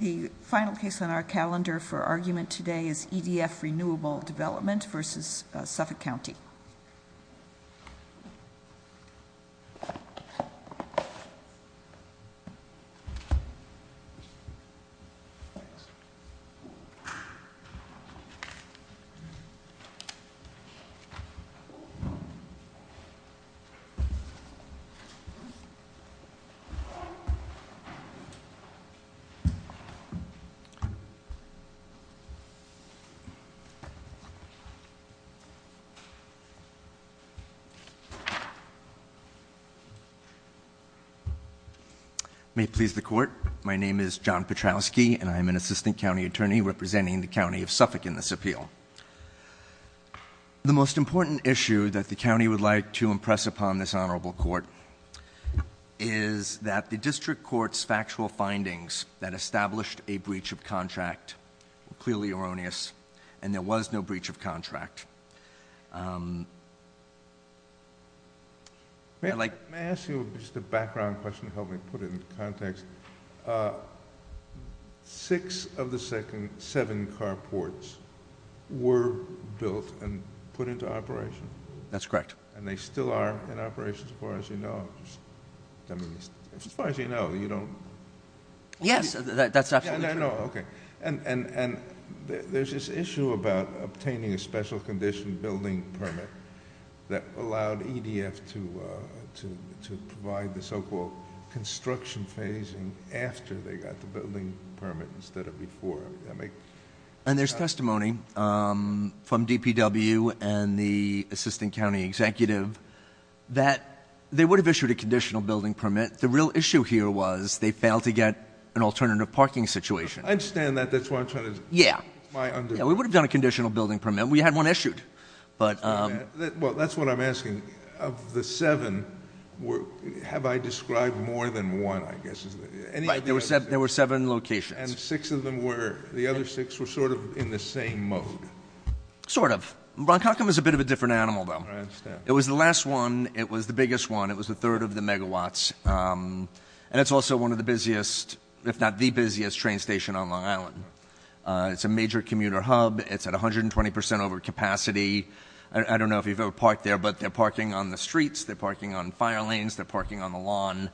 The final case on our calendar for argument today is EDF Renewable Development versus Suffolk County. May it please the court. My name is John Petrowski and I'm an assistant county attorney representing the county of Suffolk in this appeal. The most important issue that the county would like to impress upon this honorable court is that the district court's factual findings that established a breach of contract were clearly erroneous and there was no breach of contract. May I ask you just a background question to help me put it into context? Six of the seven carports were built and put into operation? That's correct. And they still are in operation as far as you know. I mean, as far as you know, you don't. Yes, that's absolutely true. I know, okay. And there's this issue about obtaining a special condition building permit that allowed EDF to provide the so-called construction phasing after they got the building permit instead of before. And there's testimony from DPW and the assistant county executive that they would have issued a conditional building permit. The real issue here was they failed to get an alternative parking situation. I understand that, that's why I'm trying to- Yeah. My under- We would have done a conditional building permit. We had one issued. But- Well, that's what I'm asking. Of the seven, have I described more than one, I guess? Right, there were seven locations. And six of them were, the other six were sort of in the same mode. Sort of. Ron Cockham is a bit of a different animal, though. I understand. It was the last one, it was the biggest one, it was the third of the megawatts. And it's also one of the busiest, if not the busiest, train station on Long Island. It's a major commuter hub, it's at 120% over capacity. I don't know if you've ever parked there, but they're parking on the streets, they're parking on fire lanes, they're parking on the lawn.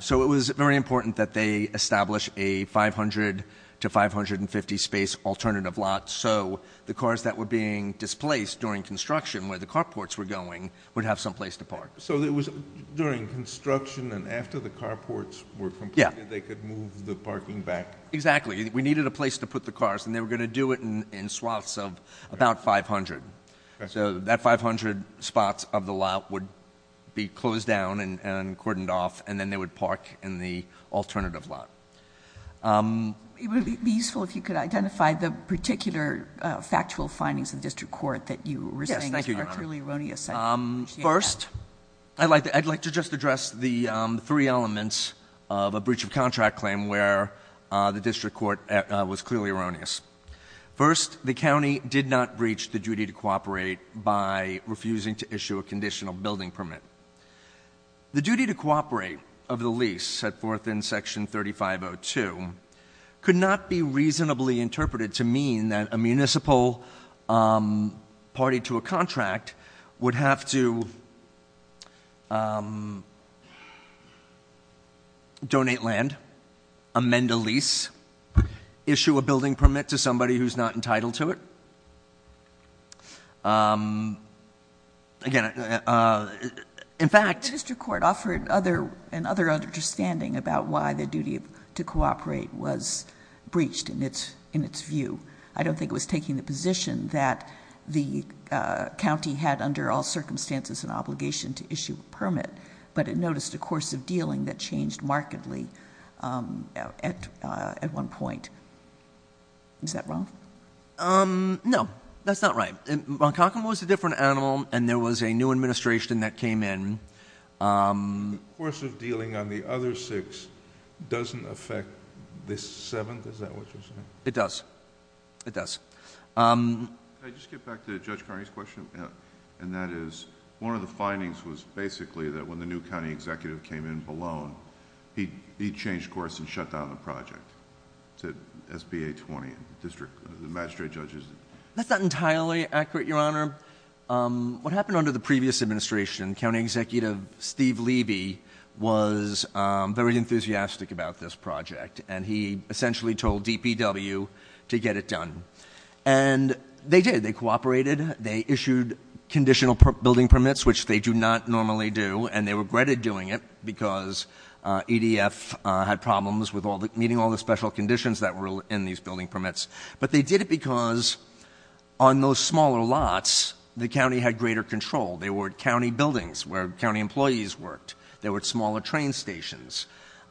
So it was very important that they establish a 500 to 550 space alternative lot. So the cars that were being displaced during construction, where the carports were going, would have some place to park. So it was during construction, and after the carports were completed, they could move the parking back? Exactly. We needed a place to put the cars, and they were going to do it in swaths of about 500. So that 500 spots of the lot would be closed down and cordoned off, and then they would park in the alternative lot. It would be useful if you could identify the particular factual findings of the district court that you were saying are clearly erroneous. I appreciate that. First, I'd like to just address the three elements of a breach of contract claim where the district court was clearly erroneous. First, the county did not breach the duty to cooperate by refusing to issue a conditional building permit. The duty to cooperate of the lease set forth in section 3502 could not be reasonably interpreted to mean that a municipal party to a contract would have to donate land, amend a lease, issue a building permit to somebody who's not entitled to it. Again, in fact- The district court offered another understanding about why the duty to cooperate was breached in its view. I don't think it was taking the position that the county had under all circumstances an obligation to issue a permit, but it noticed a course of dealing that changed markedly at one point. Is that wrong? No, that's not right. Moncalcan was a different animal, and there was a new administration that came in. The course of dealing on the other six doesn't affect the seventh, is that what you're saying? It does. It does. Can I just get back to Judge Carney's question? And that is, one of the findings was basically that when the new county executive came in, Ballone, he changed course and shut down the project to SBA 20 district magistrate judges. That's not entirely accurate, your honor. What happened under the previous administration, county executive Steve Levy was very enthusiastic about this project. And he essentially told DPW to get it done. And they did. They cooperated. They issued conditional building permits, which they do not normally do. And they regretted doing it because EDF had problems with meeting all the special conditions that were in these building permits. But they did it because on those smaller lots, the county had greater control. They were at county buildings where county employees worked. They were at smaller train stations.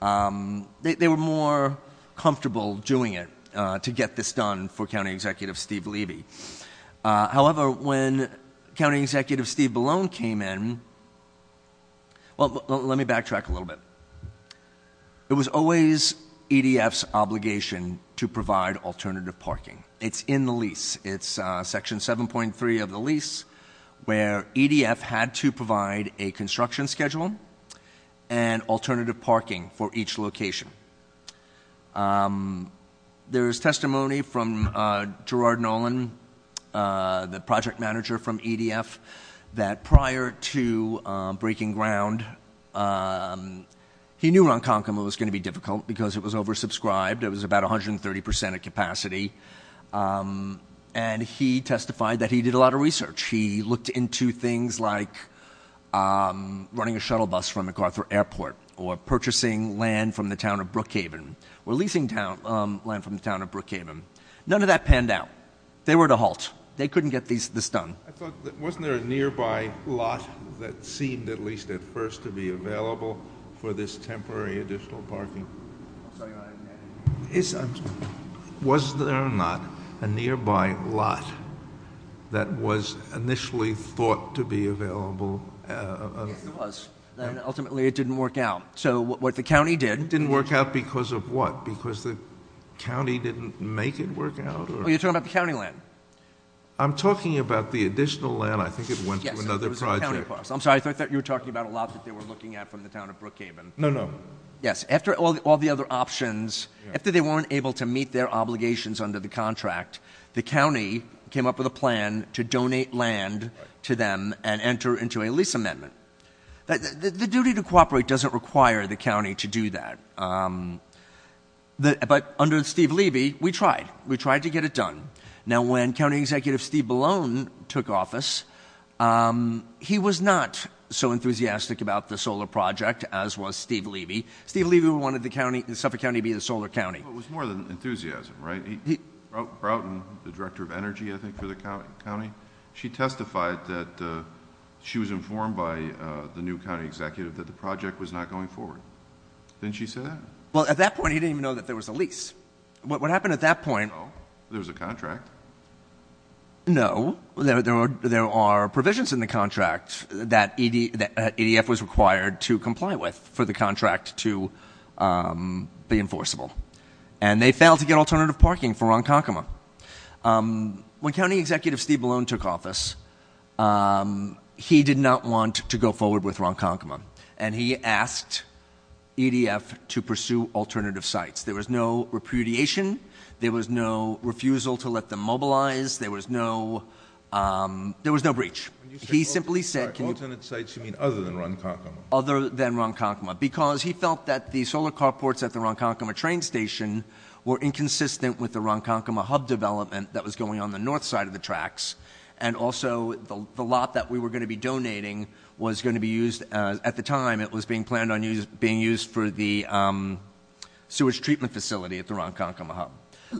They were more comfortable doing it to get this done for county executive Steve Levy. However, when county executive Steve Ballone came in, well, let me backtrack a little bit. It was always EDF's obligation to provide alternative parking. It's in the lease. It's section 7.3 of the lease, where EDF had to provide a construction schedule and alternative parking for each location. There's testimony from Gerard Nolan, the project manager from EDF, that prior to breaking ground, he knew Ronkonkoma was going to be difficult because it was oversubscribed. It was about 130% of capacity. And he testified that he did a lot of research. He looked into things like running a shuttle bus from MacArthur Airport or purchasing land from the town of Brookhaven, or leasing land from the town of Brookhaven. None of that panned out. They were to halt. They couldn't get this done. I thought, wasn't there a nearby lot that seemed, at least at first, to be available for this temporary additional parking? I'm sorry, I didn't get it. Was there not a nearby lot that was initially thought to be available? Yes, there was. And ultimately, it didn't work out. So what the county did- Didn't work out because of what? Because the county didn't make it work out, or? Oh, you're talking about the county land? I'm talking about the additional land. I think it went to another project. I'm sorry, I thought you were talking about a lot that they were looking at from the town of Brookhaven. No, no. Yes, after all the other options, after they weren't able to meet their obligations under the contract, the county came up with a plan to donate land to them and enter into a lease amendment. The duty to cooperate doesn't require the county to do that, but under Steve Levy, we tried. We tried to get it done. Now when County Executive Steve Ballone took office, he was not so enthusiastic about the solar project as was Steve Levy. Steve Levy wanted the Suffolk County to be the solar county. It was more than enthusiasm, right? Broughton, the Director of Energy, I think, for the county. She testified that she was informed by the new county executive that the project was not going forward. Didn't she say that? Well, at that point, he didn't even know that there was a lease. What happened at that point- There was a contract. No, there are provisions in the contract that EDF was required to comply with for the contract to be enforceable. And they failed to get alternative parking for Ronkonkoma. When County Executive Steve Ballone took office, he did not want to go forward with Ronkonkoma. And he asked EDF to pursue alternative sites. There was no repudiation, there was no refusal to let them mobilize, there was no breach. He simply said- Alternate sites, you mean other than Ronkonkoma? Other than Ronkonkoma, because he felt that the solar carports at the Ronkonkoma train station were inconsistent with the Ronkonkoma hub development that was going on the north side of the tracks. And also, the lot that we were going to be donating was going to be used, at the time it was being planned on being used for the sewage treatment facility at the Ronkonkoma hub.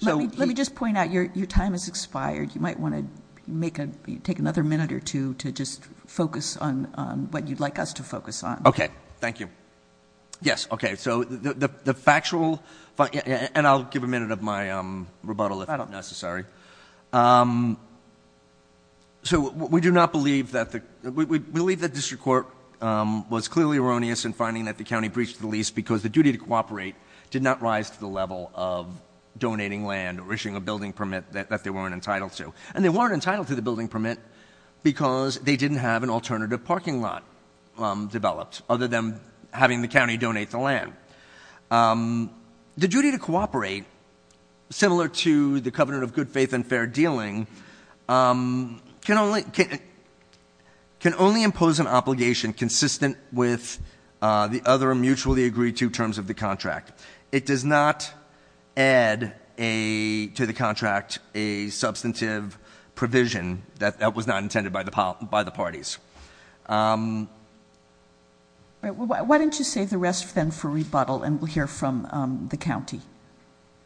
So- Let me just point out, your time has expired. You might want to take another minute or two to just focus on what you'd like us to focus on. Okay, thank you. Yes, okay, so the factual, and I'll give a minute of my rebuttal if necessary. So we do not believe that the, we believe that district court was clearly erroneous in finding that the county breached the lease. Because the duty to cooperate did not rise to the level of donating land or issuing a building permit that they weren't entitled to, and they weren't entitled to the building permit. Because they didn't have an alternative parking lot developed, other than having the county donate the land. The duty to cooperate, similar to the covenant of good faith and fair dealing, can only impose an obligation consistent with the other mutually agreed to terms of the contract. It does not add to the contract a substantive provision that was not intended by the parties. Why don't you save the rest then for rebuttal and we'll hear from the county.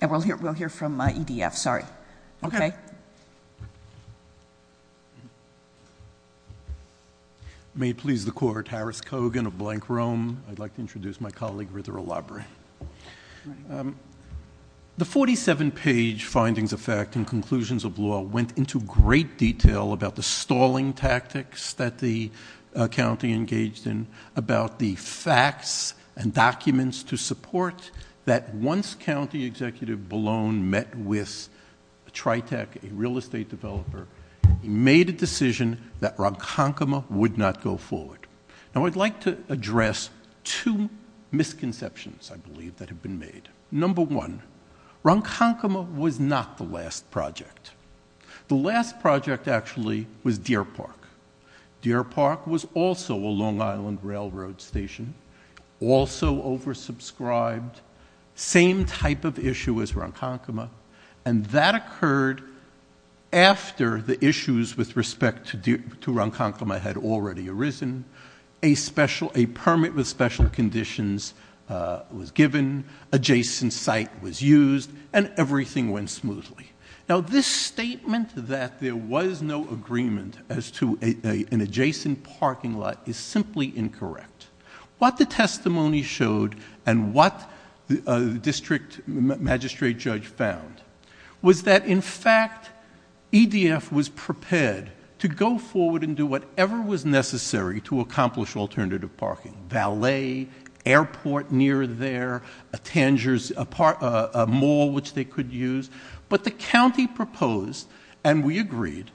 And we'll hear from EDF, sorry. Okay. May it please the court, Harris Kogan of Blank Rome. I'd like to introduce my colleague, Ritter O'Lobbery. The 47 page findings of fact and conclusions of law went into great detail about the stalling tactics that the county engaged in, about the facts and documents to support that once County Executive Ballone met with Tritec, a real estate developer, he made a decision that Ronkonkoma would not go forward. Now I'd like to address two misconceptions, I believe, that have been made. Number one, Ronkonkoma was not the last project. The last project, actually, was Deer Park. Deer Park was also a Long Island railroad station, also oversubscribed, same type of issue as Ronkonkoma, and that occurred after the issues with respect to Ronkonkoma had already arisen. A permit with special conditions was given, adjacent site was used, and everything went smoothly. Now this statement that there was no agreement as to an adjacent parking lot is simply incorrect. What the testimony showed and what the district magistrate judge found was that, in fact, EDF was prepared to go forward and do whatever was necessary to accomplish alternative parking, valet, airport near there, a mall which they could use, but the county proposed, and we agreed,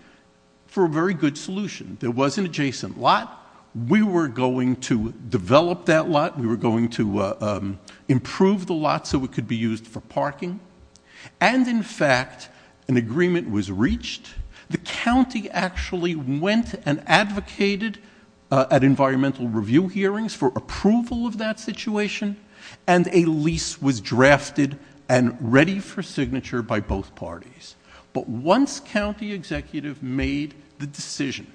for a very good solution. There was an adjacent lot, we were going to develop that lot, we were going to improve the lot so it could be used for parking. And in fact, an agreement was reached. The county actually went and advocated at environmental review hearings for approval of that situation, and a lease was drafted and ready for signature by both parties. But once county executive made the decision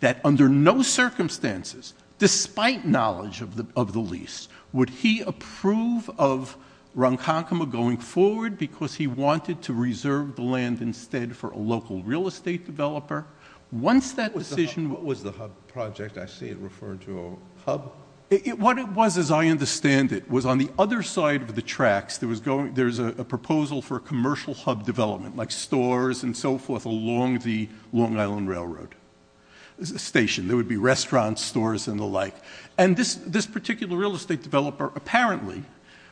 that under no circumstances, despite knowledge of the lease, would he approve of Ronkonkoma going forward? Because he wanted to reserve the land instead for a local real estate developer. Once that decision- What was the hub project? I see it referred to a hub. What it was, as I understand it, was on the other side of the tracks, there was a proposal for commercial hub development, like stores and so forth along the Long Island Railroad. Station, there would be restaurants, stores, and the like. And this particular real estate developer apparently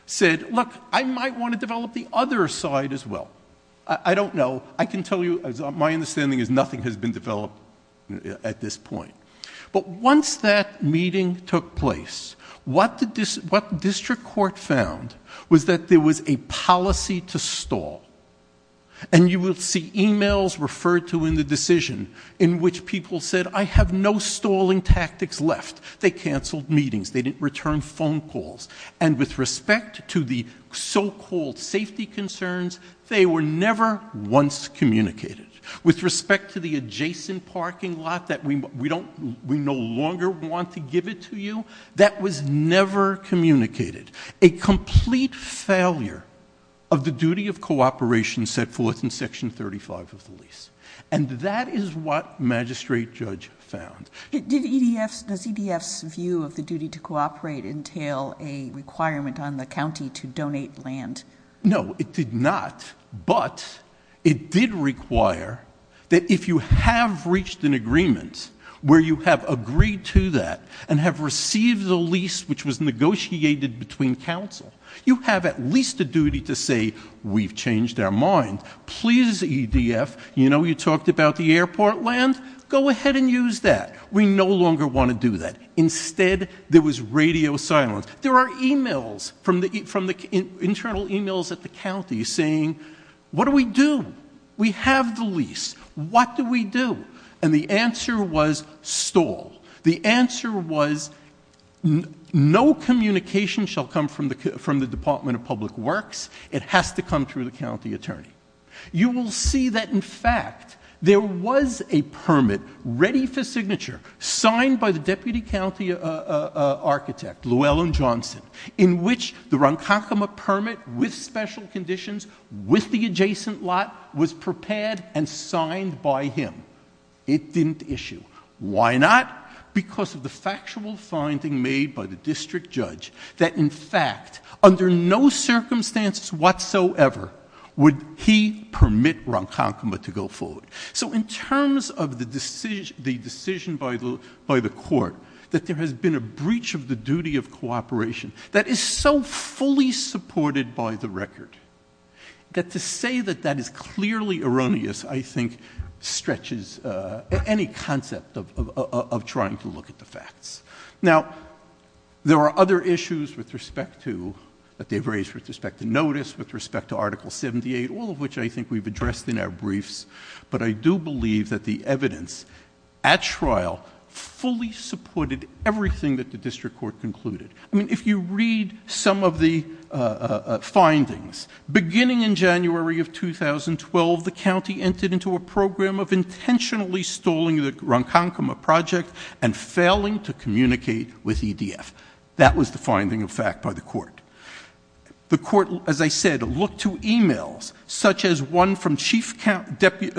said, look, I might want to develop the other side as well. I don't know, I can tell you, my understanding is nothing has been developed at this point. But once that meeting took place, what the district court found was that there was a policy to stall. And you will see emails referred to in the decision in which people said, I have no stalling tactics left. They canceled meetings, they didn't return phone calls. And with respect to the so-called safety concerns, they were never once communicated. With respect to the adjacent parking lot that we no longer want to give it to you, that was never communicated. A complete failure of the duty of cooperation set forth in section 35 of the lease. And that is what magistrate judge found. Does EDF's view of the duty to cooperate entail a requirement on the county to donate land? No, it did not. But it did require that if you have reached an agreement where you have agreed to that and have received the lease which was negotiated between council, you have at least a duty to say, we've changed our mind. Please, EDF, you know you talked about the airport land? Go ahead and use that. We no longer want to do that. Instead, there was radio silence. There are emails from the internal emails at the county saying, what do we do? We have the lease, what do we do? And the answer was stall. The answer was, no communication shall come from the Department of Public Works. It has to come through the county attorney. You will see that in fact, there was a permit ready for signature signed by the deputy county architect, Llewellyn Johnson, in which the Ronkakuma permit with special conditions with the adjacent lot was prepared and signed by him. It didn't issue. Why not? Because of the factual finding made by the district judge that in fact, under no circumstances whatsoever, would he permit Ronkakuma to go forward. So in terms of the decision by the court, that there has been a breach of the duty of cooperation that is so fully supported by the record. That to say that that is clearly erroneous, I think, stretches any concept of trying to look at the facts. Now, there are other issues with respect to, that they've raised with respect to notice, with respect to Article 78, all of which I think we've addressed in our briefs. But I do believe that the evidence at trial fully supported everything that the district court concluded. I mean, if you read some of the findings, beginning in January of 2012, the county entered into a program of intentionally stalling the Ronkakuma project and failing to communicate with EDF, that was the finding of fact by the court. The court, as I said, looked to emails, such as one from Chief Deputy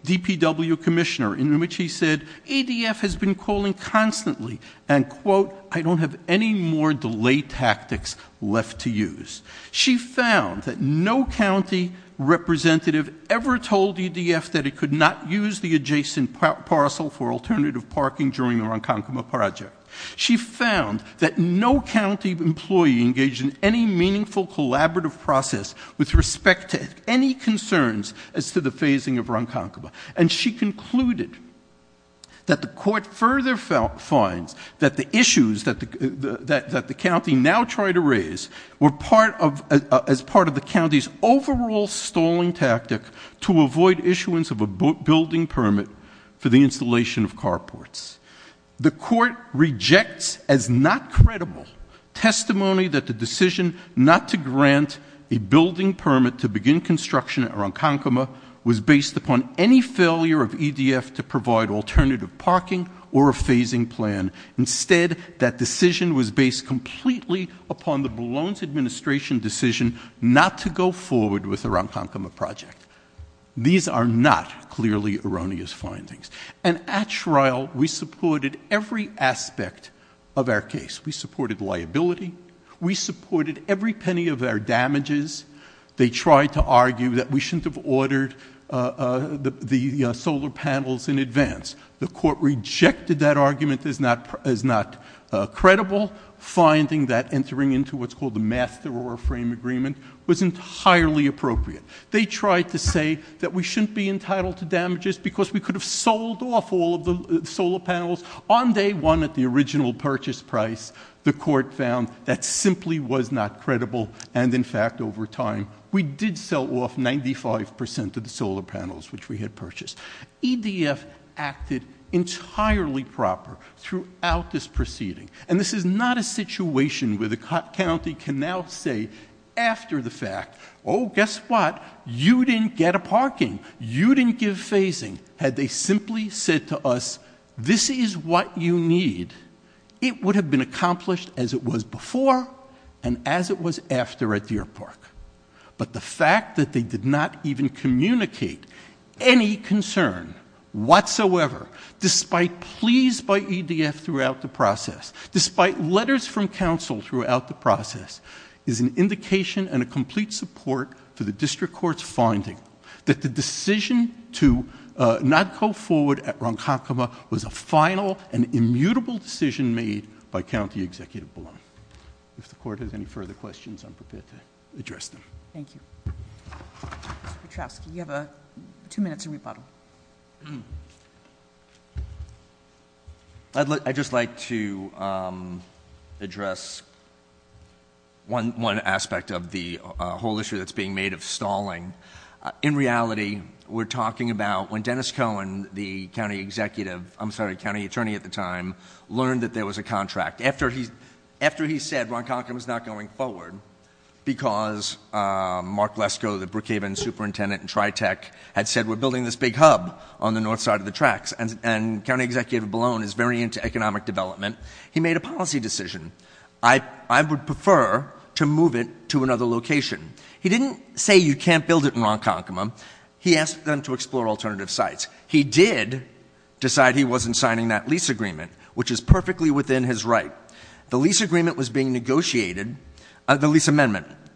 DPW Commissioner, in which he said, EDF has been calling constantly and, quote, I don't have any more delay tactics left to use. She found that no county representative ever told EDF that it could not use the adjacent parcel for alternative parking during the Ronkakuma project. She found that no county employee engaged in any meaningful collaborative process with respect to any concerns as to the phasing of Ronkakuma. And she concluded that the court further found finds that the issues that the county now tried to raise were as part of the county's overall stalling tactic to avoid issuance of a building permit for the installation of carports. The court rejects as not credible testimony that the decision not to grant a building permit to begin construction at Ronkakuma was based upon any failure of EDF to provide alternative parking or a phasing plan. Instead, that decision was based completely upon the Boulogne's administration decision not to go forward with the Ronkakuma project. These are not clearly erroneous findings. And at trial, we supported every aspect of our case. We supported liability. We supported every penny of our damages. They tried to argue that we shouldn't have ordered the solar panels in advance. The court rejected that argument as not credible. Finding that entering into what's called the master or a frame agreement was entirely appropriate. They tried to say that we shouldn't be entitled to damages because we could have sold off all of the solar panels. On day one at the original purchase price, the court found that simply was not credible. And in fact, over time, we did sell off 95% of the solar panels which we had purchased. EDF acted entirely proper throughout this proceeding. And this is not a situation where the county can now say, after the fact, guess what, you didn't get a parking, you didn't give phasing. Had they simply said to us, this is what you need, it would have been accomplished as it was before and as it was after at Deer Park. But the fact that they did not even communicate any concern whatsoever, despite pleas by EDF throughout the process, despite letters from council throughout the process, is an indication and a complete support for the district court's finding. That the decision to not go forward at Ronkakuma was a final and immutable decision made by County Executive Blum. If the court has any further questions, I'm prepared to address them. Thank you. Mr. Petrofsky, you have two minutes to rebuttal. I'd just like to address one aspect of the whole issue that's being made of stalling. In reality, we're talking about when Dennis Cohen, the county executive, I'm sorry, county attorney at the time, learned that there was a contract. After he said Ronkakuma's not going forward because Mark Lesko, the Brookhaven superintendent in TriTech had said we're building this big hub on the north side of the tracks. And County Executive Blum is very into economic development. He made a policy decision. I would prefer to move it to another location. He didn't say you can't build it in Ronkakuma. He asked them to explore alternative sites. He did decide he wasn't signing that lease agreement, which is perfectly within his right. The lease amendment was being negotiated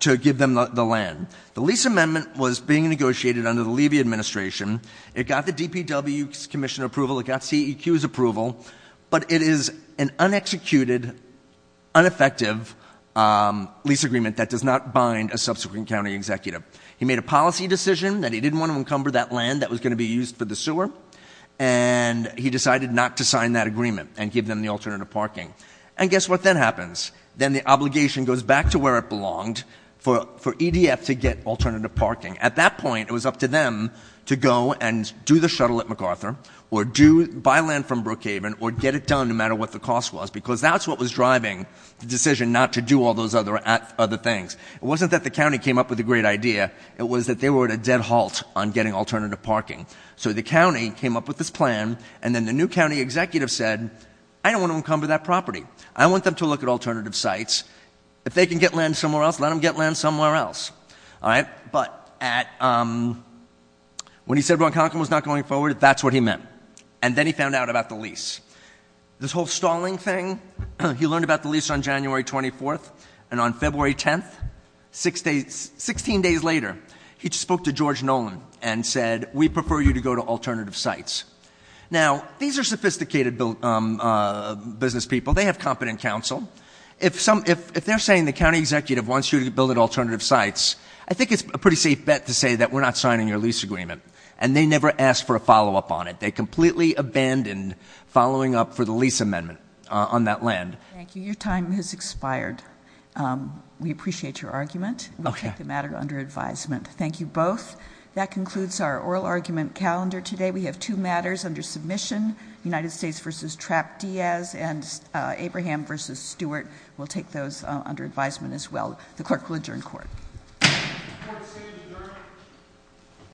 to give them the land. The lease amendment was being negotiated under the Levy Administration. It got the DPW's commission approval, it got CEQ's approval. But it is an un-executed, un-effective lease agreement that does not bind a subsequent county executive. He made a policy decision that he didn't want to encumber that land that was going to be used for the sewer. And he decided not to sign that agreement and give them the alternative parking. And guess what then happens? Then the obligation goes back to where it belonged for EDF to get alternative parking. At that point, it was up to them to go and do the shuttle at MacArthur, or buy land from Brookhaven, or get it done, no matter what the cost was. Because that's what was driving the decision not to do all those other things. It wasn't that the county came up with a great idea, it was that they were at a dead halt on getting alternative parking. So the county came up with this plan, and then the new county executive said, I don't want to encumber that property. I want them to look at alternative sites. If they can get land somewhere else, let them get land somewhere else, all right? But when he said Ron Conklin was not going forward, that's what he meant. And then he found out about the lease. This whole stalling thing, he learned about the lease on January 24th. And on February 10th, 16 days later, he spoke to George Nolan and said, we prefer you to go to alternative sites. Now, these are sophisticated business people. They have competent counsel. If they're saying the county executive wants you to build alternative sites, I think it's a pretty safe bet to say that we're not signing your lease agreement. And they never asked for a follow up on it. They completely abandoned following up for the lease amendment on that land. Thank you, your time has expired. We appreciate your argument. We'll take the matter under advisement. Thank you both. That concludes our oral argument calendar today. We have two matters under submission, United States versus Trapp-Diaz and Abraham versus Stewart. We'll take those under advisement as well. The clerk will adjourn court.